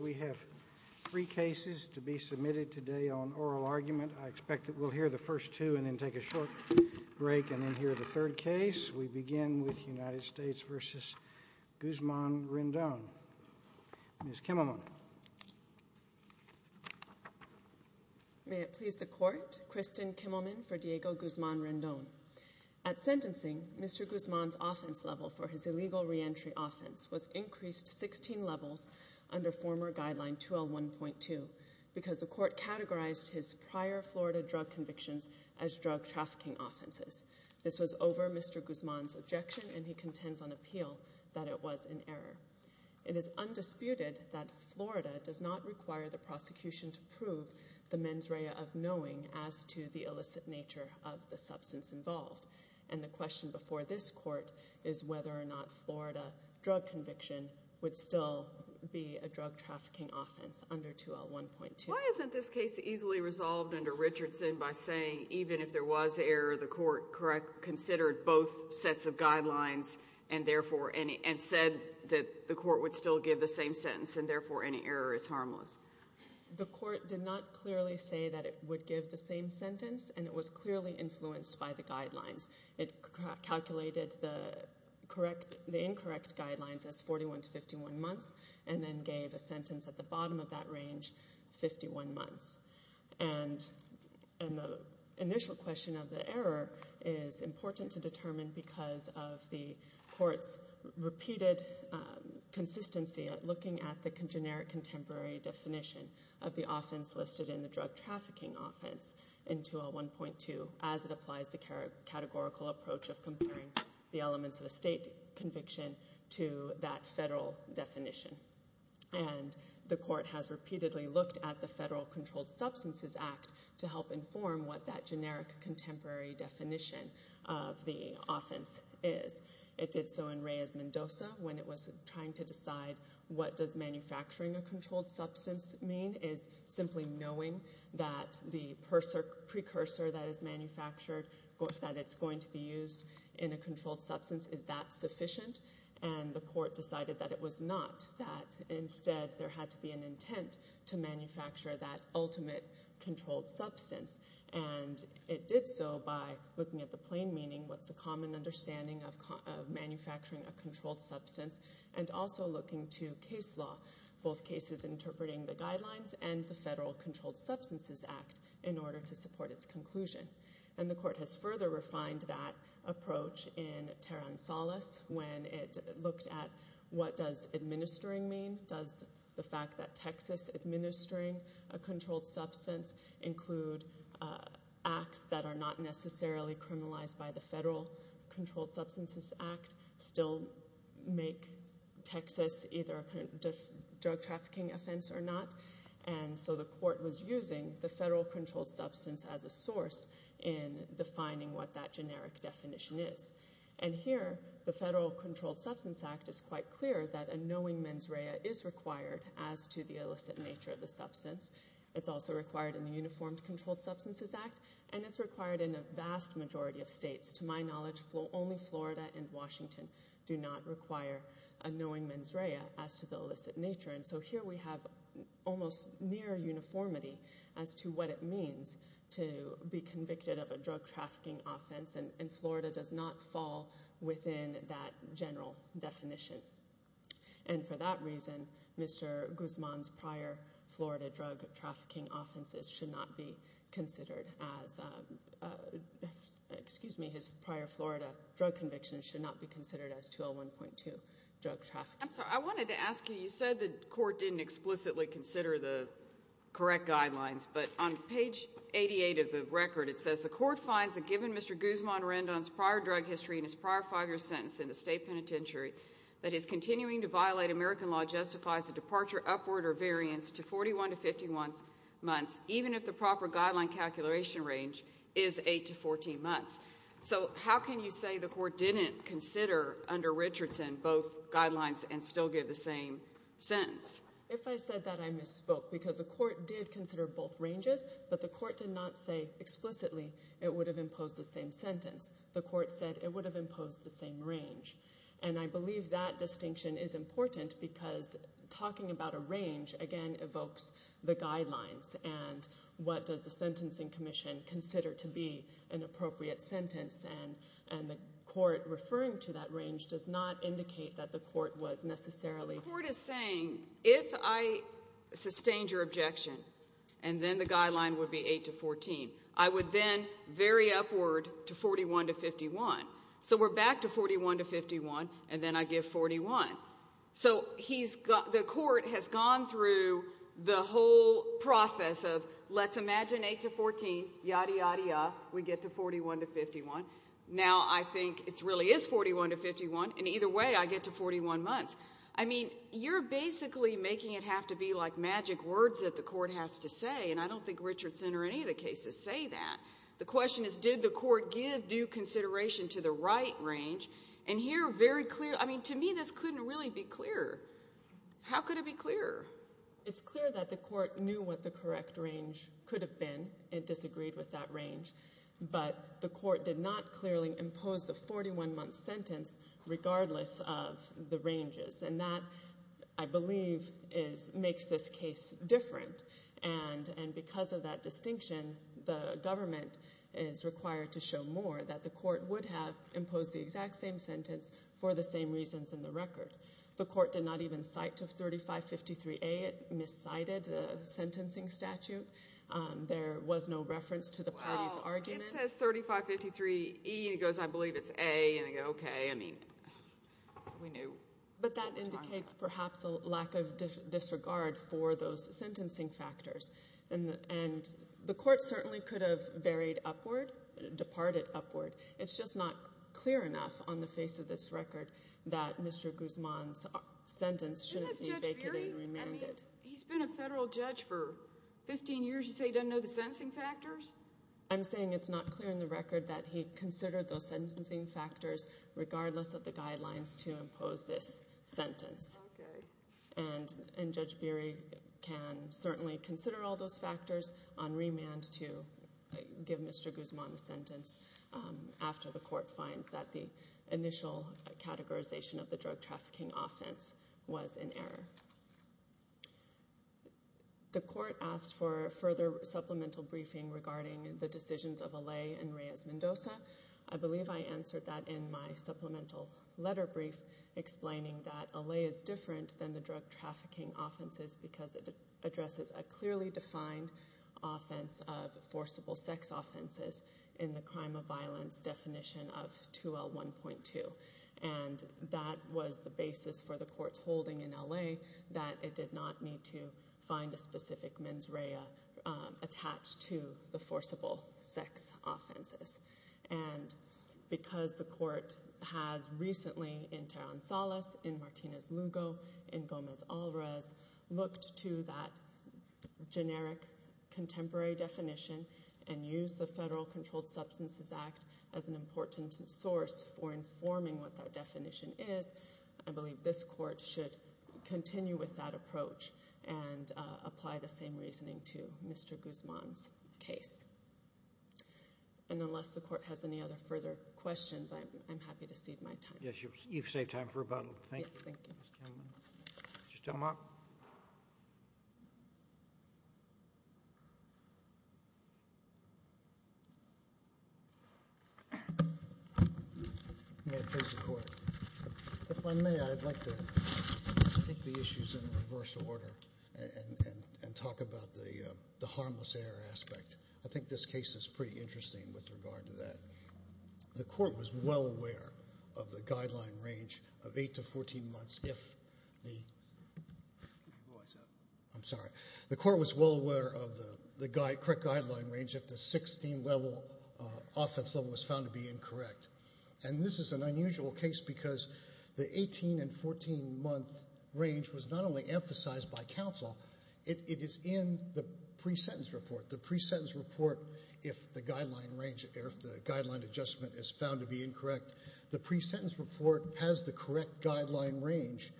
We have three cases to be submitted today on oral argument. I expect that we'll hear the first two and then take a short break and then hear the third case. We begin with United States v. Guzman-Rendon. Ms. Kimmelman. May it please the Court. Kristen Kimmelman for Diego Guzman-Rendon. At sentencing, Mr. Guzman's offense level for his illegal reentry offense was increased 16 levels under former guideline 201.2 because the Court categorized his prior Florida drug convictions as drug trafficking offenses. This was over Mr. Guzman's objection and he contends on appeal that it was an error. It is undisputed that Florida does not require the prosecution to prove the mens rea of knowing as to the illicit nature of the substance involved. And the question before this Court is whether or not Florida drug conviction would still be a drug trafficking offense under 201.2. Why isn't this case easily resolved under Richardson by saying even if there was error, the Court considered both sets of guidelines and said that the Court would still give the same sentence and therefore any error is harmless? The Court did not clearly say that it would give the same sentence and it was clearly influenced by the guidelines. It calculated the incorrect guidelines as 41 to 51 months and then gave a sentence at the bottom of that range, 51 months. And the initial question of the error is important to determine because of the Court's repeated consistency at looking at the generic contemporary definition of the offense listed in the drug trafficking offense in 201.2 as it applies the categorical approach of comparing the elements of a state conviction to that federal definition. And the Court has repeatedly looked at the Federal Controlled Substances Act to help inform what that generic contemporary definition of the offense is. It did so in Reyes-Mendoza when it was trying to decide what does manufacturing a controlled substance mean is simply knowing that the precursor that is manufactured, that it's going to be used in a controlled substance, is that sufficient? And the Court decided that it was not, that instead there had to be an intent to manufacture that ultimate controlled substance. And it did so by looking at the plain meaning, what's the common understanding of manufacturing a controlled substance, and also looking to case law, both cases interpreting the guidelines and the Federal Controlled Substances Act in order to support its conclusion. And the Court has further refined that approach in Terransales when it looked at what does administering mean? Does the fact that Texas administering a controlled substance include acts that are not necessarily criminalized by the Federal Controlled Substances Act still make Texas either a drug trafficking offense or not? And so the Court was using the Federal Controlled Substance as a source in defining what that generic definition is. And here, the Federal Controlled Substances Act is quite clear that a knowing mens rea is required as to the illicit nature of the substance. It's also required in the Uniformed Controlled Substances Act, and it's required in a vast majority of states. To my knowledge, only Florida and Washington do not require a knowing mens rea as to the illicit nature. And so here we have almost near uniformity as to what it means to be convicted of a drug trafficking offense, and Florida does not fall within that general definition. And for that reason, Mr. Guzman's prior Florida drug trafficking offenses should not be considered as – excuse me, his prior Florida drug convictions should not be considered as 201.2, drug trafficking. I'm sorry, I wanted to ask you, you said the Court didn't explicitly consider the correct guidelines, but on page 88 of the record it says, the Court finds that given Mr. Guzman Rendon's prior drug history and his prior five-year sentence in the state penitentiary, that his continuing to violate American law justifies a departure upward or variance to 41 to 51 months, even if the proper guideline calculation range is 8 to 14 months. So how can you say the Court didn't consider under Richardson both guidelines and still give the same sentence? If I said that, I misspoke, because the Court did consider both ranges, but the Court did not say explicitly it would have imposed the same sentence. The Court said it would have imposed the same range. And I believe that distinction is important because talking about a range, again, evokes the guidelines, and what does the Sentencing Commission consider to be an appropriate sentence, and the Court referring to that range does not indicate that the Court was necessarily... The Court is saying, if I sustained your objection and then the guideline would be 8 to 14, I would then vary upward to 41 to 51. So we're back to 41 to 51, and then I give 41. So the Court has gone through the whole process of let's imagine 8 to 14, yada, yada, yada, we get to 41 to 51. Now I think it really is 41 to 51, and either way I get to 41 months. I mean, you're basically making it have to be like magic words that the Court has to say, and I don't think Richardson or any of the cases say that. The question is, did the Court give due consideration to the right range? And here very clear, I mean, to me this couldn't really be clearer. How could it be clearer? It's clear that the Court knew what the correct range could have been and disagreed with that range, but the Court did not clearly impose the 41-month sentence regardless of the ranges, and that, I believe, makes this case different. And because of that distinction, the government is required to show more, that the Court would have imposed the exact same sentence for the same reasons in the record. The Court did not even cite to 3553A. It miscited the sentencing statute. There was no reference to the parties' arguments. Well, it says 3553E, and it goes, I believe it's A, and I go, okay, I mean, we knew. But that indicates perhaps a lack of disregard for those sentencing factors, and the Court certainly could have varied upward, departed upward. It's just not clear enough on the face of this record that Mr. Guzman's sentence shouldn't be vacated and remanded. He's been a federal judge for 15 years. You say he doesn't know the sentencing factors? I'm saying it's not clear in the record that he considered those sentencing factors regardless of the guidelines to impose this sentence. Okay. And Judge Beery can certainly consider all those factors on remand to give Mr. Guzman the sentence after the Court finds that the initial categorization of the drug trafficking offense was in error. The Court asked for further supplemental briefing regarding the decisions of Allay and Reyes-Mendoza. I believe I answered that in my supplemental letter brief, explaining that Allay is different than the drug trafficking offenses because it addresses a clearly defined offense of forcible sex offenses in the crime of violence definition of 2L1.2. And that was the basis for the Court's holding in Allay that it did not need to find a specific mens rea attached to the forcible sex offenses. And because the Court has recently in Teran Salas, in Martinez-Lugo, in Gomez-Alvarez looked to that generic contemporary definition and used the Federal Controlled Substances Act as an important source for informing what that definition is, I believe this Court should continue with that approach and apply the same reasoning to Mr. Guzman's case. And unless the Court has any other further questions, I'm happy to cede my time. Yes, you've saved time for rebuttal. Thank you. Yes, thank you. Mr. Stelmach? If I may, I'd like to take the issues in reverse order and talk about the harmless error aspect. I think this case is pretty interesting with regard to that. The Court was well aware of the guideline range of 8 to 14 months if the 16-level offense level was found to be incorrect. And this is an unusual case because the 18 and 14-month range was not only emphasized by counsel, it is in the pre-sentence report. The pre-sentence report, if the guideline adjustment is found to be incorrect, the pre-sentence report has the correct guideline range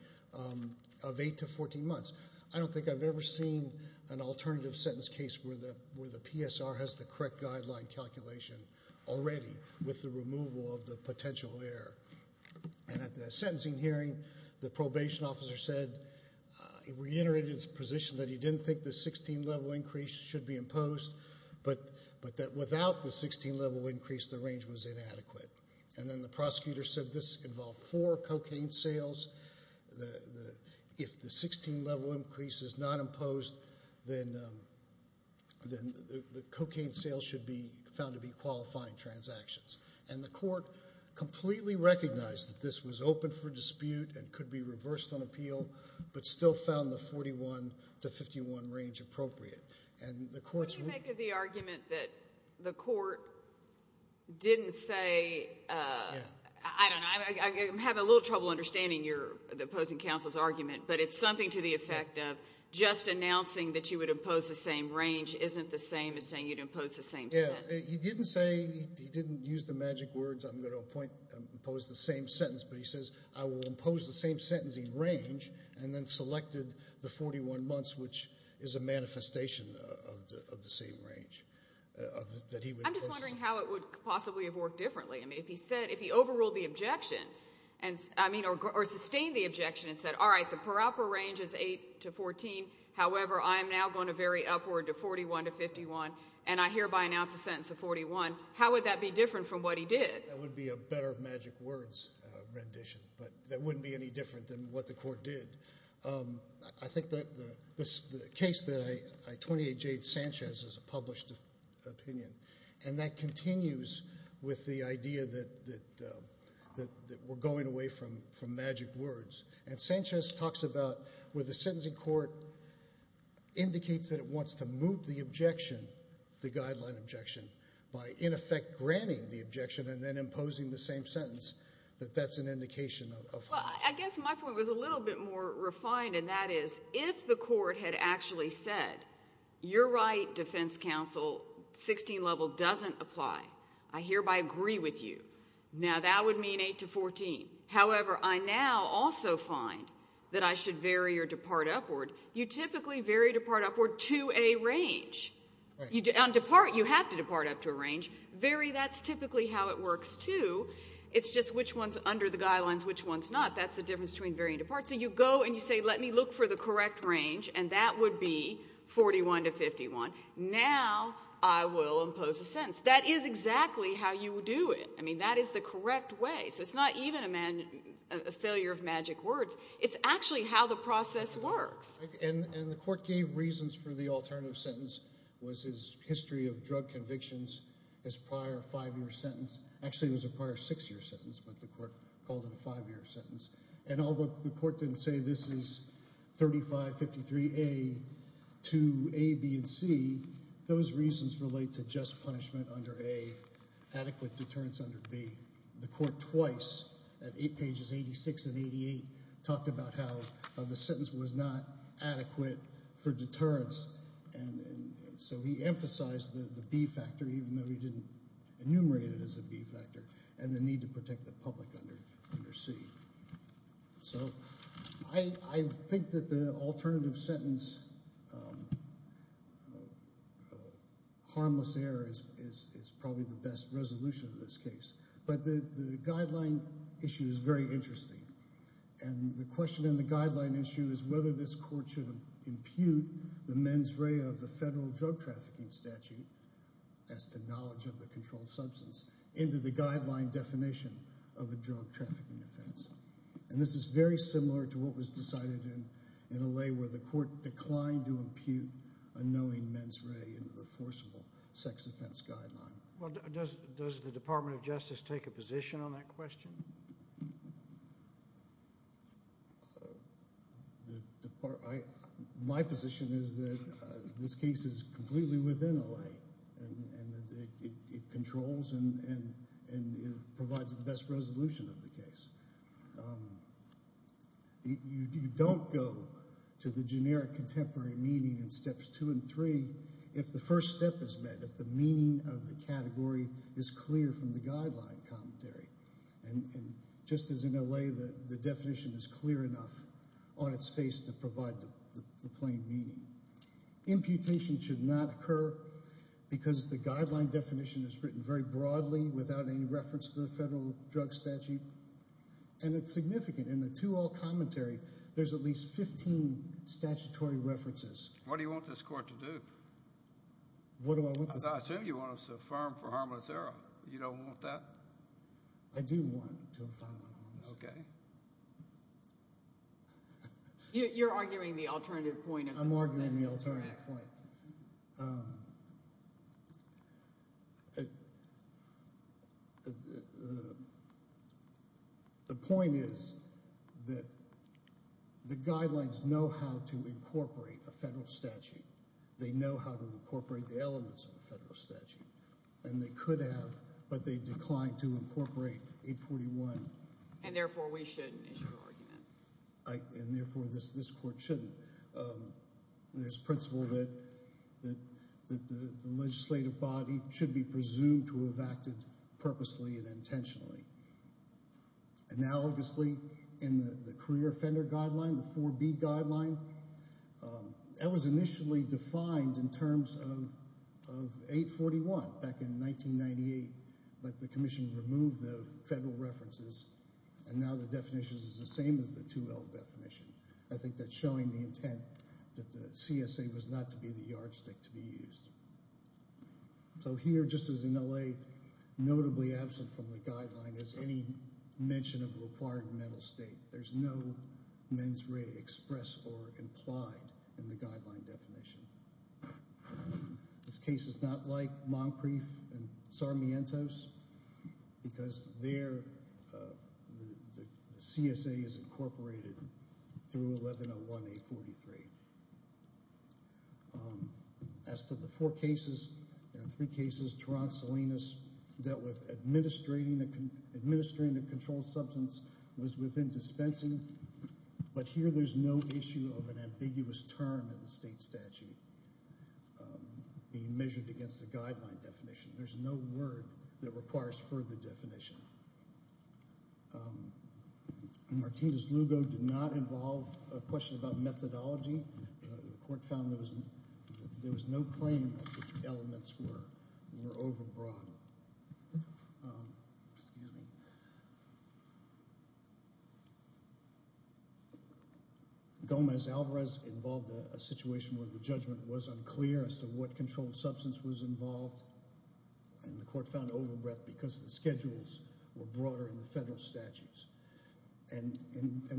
of 8 to 14 months. I don't think I've ever seen an alternative sentence case where the PSR has the correct guideline calculation already with the removal of the potential error. And at the sentencing hearing, the probation officer reiterated his position that he didn't think the 16-level increase should be imposed, but that without the 16-level increase, the range was inadequate. And then the prosecutor said this involved four cocaine sales. If the 16-level increase is not imposed, then the cocaine sales should be found to be qualifying transactions. And the Court completely recognized that this was open for dispute and could be reversed on appeal, but still found the 41 to 51 range appropriate. Can you make the argument that the Court didn't say, I don't know, I'm having a little trouble understanding the opposing counsel's argument, but it's something to the effect of just announcing that you would impose the same range isn't the same as saying you'd impose the same sentence. He didn't say, he didn't use the magic words, I'm going to impose the same sentence, but he says I will impose the same sentencing range and then selected the 41 months, which is a manifestation of the same range. I'm just wondering how it would possibly have worked differently. I mean, if he said, if he overruled the objection, I mean, or sustained the objection and said, all right, the proper range is 8 to 14, however, I am now going to vary upward to 41 to 51, and I hereby announce a sentence of 41, how would that be different from what he did? That would be a better magic words rendition, but that wouldn't be any different than what the Court did. I think the case that I 28-J Sanchez is a published opinion, and that continues with the idea that we're going away from magic words. And Sanchez talks about where the sentencing court indicates that it wants to move the objection, the guideline objection, by, in effect, granting the objection and then imposing the same sentence, that that's an indication of what it is. Well, I guess my point was a little bit more refined, and that is, if the Court had actually said, you're right, defense counsel, 16 level doesn't apply, I hereby agree with you, now that would mean 8 to 14. However, I now also find that I should vary or depart upward. You typically vary, depart upward to a range. On depart, you have to depart up to a range. Vary, that's typically how it works too. It's just which one's under the guidelines, which one's not. That's the difference between vary and depart. So you go and you say, let me look for the correct range, and that would be 41 to 51. Now I will impose a sentence. That is exactly how you would do it. I mean, that is the correct way. So it's not even a failure of magic words. It's actually how the process works. And the Court gave reasons for the alternative sentence was his history of drug convictions, his prior five-year sentence. Actually, it was a prior six-year sentence, but the Court called it a five-year sentence. And although the Court didn't say this is 3553A to A, B, and C, those reasons relate to just punishment under A, adequate deterrence under B. The Court twice, at pages 86 and 88, talked about how the sentence was not adequate for deterrence. And so he emphasized the B factor, even though he didn't enumerate it as a B factor, and the need to protect the public under C. So I think that the alternative sentence, harmless error, is probably the best resolution of this case. But the guideline issue is very interesting. And the question in the guideline issue is whether this Court should impute the mens rea of the Federal Drug Trafficking Statute as to knowledge of the controlled substance into the guideline definition of a drug trafficking offense. And this is very similar to what was decided in L.A. where the Court declined to impute a knowing mens rea into the forcible sex offense guideline. Well, does the Department of Justice take a position on that question? My position is that this case is completely within L.A. and that it controls and provides the best resolution of the case. You don't go to the generic contemporary meaning in Steps 2 and 3 if the first step is met, if the meaning of the category is clear from the guideline commentary. And just as in L.A., the definition is clear enough on its face to provide the plain meaning. Imputation should not occur because the guideline definition is written very broadly without any reference to the Federal Drug Statute. And it's significant. In the to all commentary, there's at least 15 statutory references. What do you want this Court to do? What do I want this Court to do? I assume you want us to affirm for harmless error. You don't want that? I do want to affirm for harmless error. Okay. You're arguing the alternative point. I'm arguing the alternative point. The point is that the guidelines know how to incorporate a Federal statute. They know how to incorporate the elements of a Federal statute. And they could have, but they declined to incorporate 841. And, therefore, we shouldn't issue an argument. And, therefore, this Court shouldn't. There's principle that the legislative body should be presumed to have acted purposely and intentionally. Analogously, in the career offender guideline, the 4B guideline, that was initially defined in terms of 841 back in 1998, but the Commission removed the Federal references, and now the definition is the same as the 2L definition. I think that's showing the intent that the CSA was not to be the yardstick to be used. So here, just as in L.A., notably absent from the guideline is any mention of a required mental state. There's no mens rea expressed or implied in the guideline definition. This case is not like Moncrief and Sarmiento's, because there the CSA is incorporated through 1101A43. As to the four cases, there are three cases, Toronto Salinas dealt with administering a controlled substance was within dispensing, but here there's no issue of an ambiguous term in the state statute being measured against the guideline definition. There's no word that requires further definition. Martinez-Lugo did not involve a question about methodology. The Court found there was no claim that the elements were overbroad. Excuse me. Gomez-Alvarez involved a situation where the judgment was unclear as to what controlled substance was involved, and the Court found overbreadth because the schedules were broader in the Federal statutes. And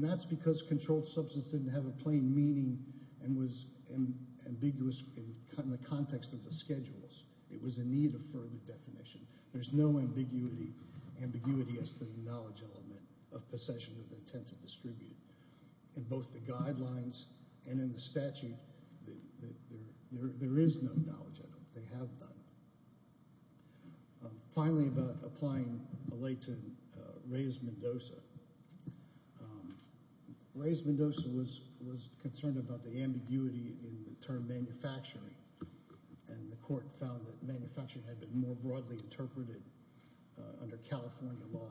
that's because controlled substance didn't have a plain meaning and was ambiguous in the context of the schedules. It was in need of further definition. There's no ambiguity as to the knowledge element of possession with intent to distribute. In both the guidelines and in the statute, there is no knowledge of it. They have none. Finally, about applying a lay to Reyes-Mendoza, Reyes-Mendoza was concerned about the ambiguity in the term manufacturing, and the Court found that manufacturing had been more broadly interpreted under California law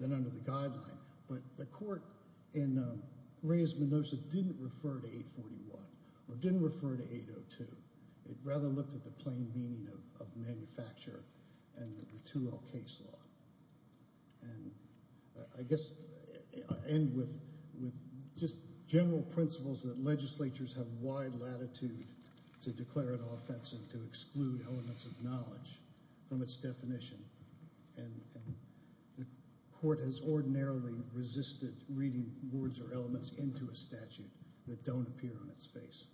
than under the guideline. But the Court in Reyes-Mendoza didn't refer to 841 or didn't refer to 802. It rather looked at the plain meaning of manufacture and the 2L case law. And I guess I'll end with just general principles that legislatures have wide latitude to declare an offense and to exclude elements of knowledge from its definition. And the Court has ordinarily resisted reading words or elements into a statute that don't appear on its face.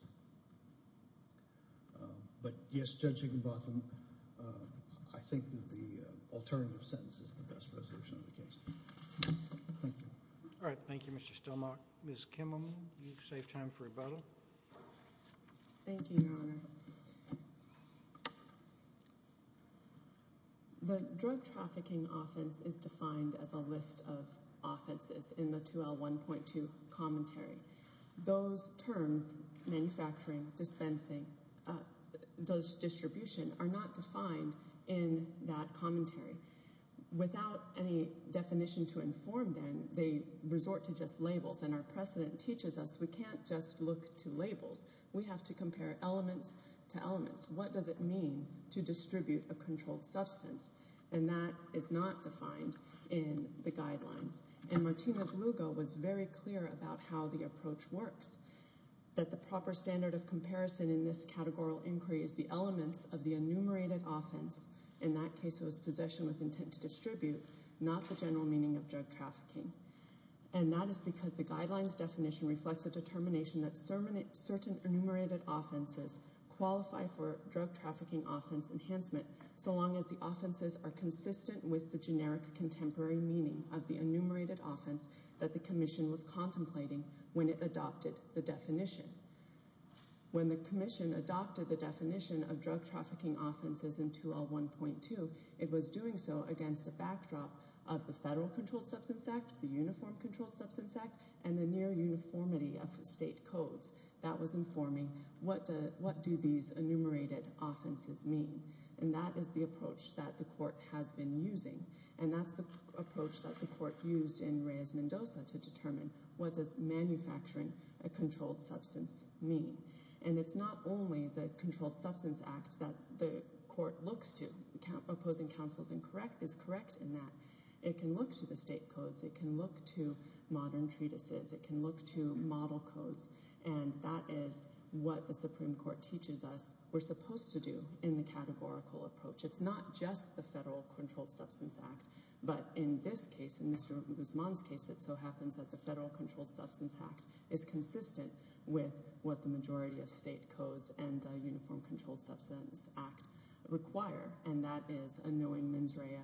But, yes, Judge Higginbotham, I think that the alternative sentence is the best resolution of the case. Thank you. All right. Thank you, Mr. Stillmark. Ms. Kimmel, you've saved time for rebuttal. Thank you, Your Honor. The drug trafficking offense is defined as a list of offenses in the 2L 1.2 commentary. Those terms, manufacturing, dispensing, distribution, are not defined in that commentary. Without any definition to inform them, they resort to just labels. And our precedent teaches us we can't just look to labels. We have to compare elements to elements. What does it mean to distribute a controlled substance? And that is not defined in the guidelines. And Martínez-Lugo was very clear about how the approach works, that the proper standard of comparison in this categorical inquiry is the elements of the enumerated offense, in that case it was possession with intent to distribute, not the general meaning of drug trafficking. And that is because the guidelines definition reflects a determination that certain enumerated offenses qualify for drug trafficking offense enhancement so long as the offenses are consistent with the generic contemporary meaning of the enumerated offense that the commission was contemplating when it adopted the definition. When the commission adopted the definition of drug trafficking offenses in 2L 1.2, it was doing so against a backdrop of the Federal Controlled Substance Act, the Uniform Controlled Substance Act, and the near uniformity of state codes that was informing what do these enumerated offenses mean. And that is the approach that the court has been using. And that's the approach that the court used in Reyes-Mendoza to determine what does manufacturing a controlled substance mean. And it's not only the Controlled Substance Act that the court looks to. Opposing counsel is correct in that. It can look to the state codes. It can look to modern treatises. It can look to model codes. And that is what the Supreme Court teaches us we're supposed to do in the categorical approach. It's not just the Federal Controlled Substance Act. But in this case, in Mr. Guzman's case, it so happens that the Federal Controlled Substance Act is consistent with what the majority of state codes and the Uniform Controlled Substance Act require, and that is a knowing mens rea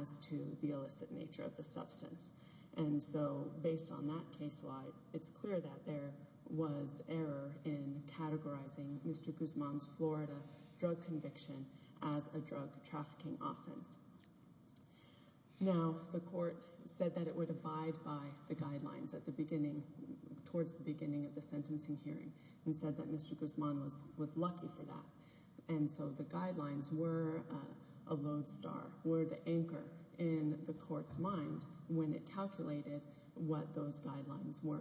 as to the illicit nature of the substance. And so based on that case law, it's clear that there was error in categorizing Mr. Guzman's Florida drug conviction as a drug trafficking offense. Now, the court said that it would abide by the guidelines towards the beginning of the sentencing hearing and said that Mr. Guzman was lucky for that. And so the guidelines were a lodestar, were the anchor in the court's mind when it calculated what those guidelines were.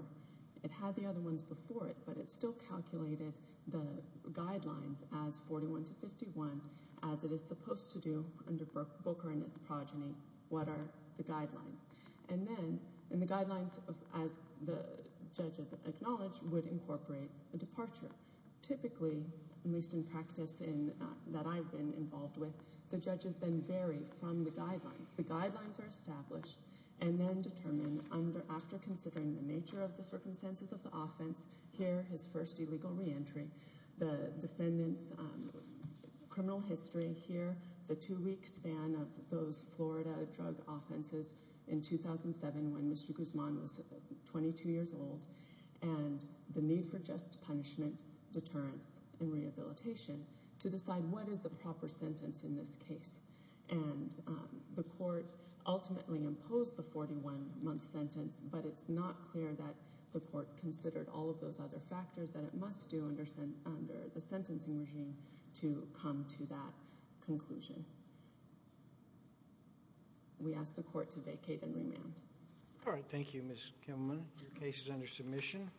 It had the other ones before it, but it still calculated the guidelines as 41 to 51 as it is supposed to do under Booker and his progeny, what are the guidelines. And then the guidelines, as the judges acknowledged, would incorporate a departure. Typically, at least in practice that I've been involved with, the judges then vary from the guidelines. The guidelines are established and then determined after considering the nature of the circumstances of the offense, here his first illegal reentry, the defendant's criminal history here, the two-week span of those Florida drug offenses in 2007 when Mr. Guzman was 22 years old, and the need for just punishment, deterrence, and rehabilitation to decide what is the proper sentence in this case. And the court ultimately imposed the 41-month sentence, but it's not clear that the court considered all of those other factors that it must do under the sentencing regime to come to that conclusion. We ask the court to vacate and remand. All right. Thank you, Ms. Kimmelman. Your case is under submission.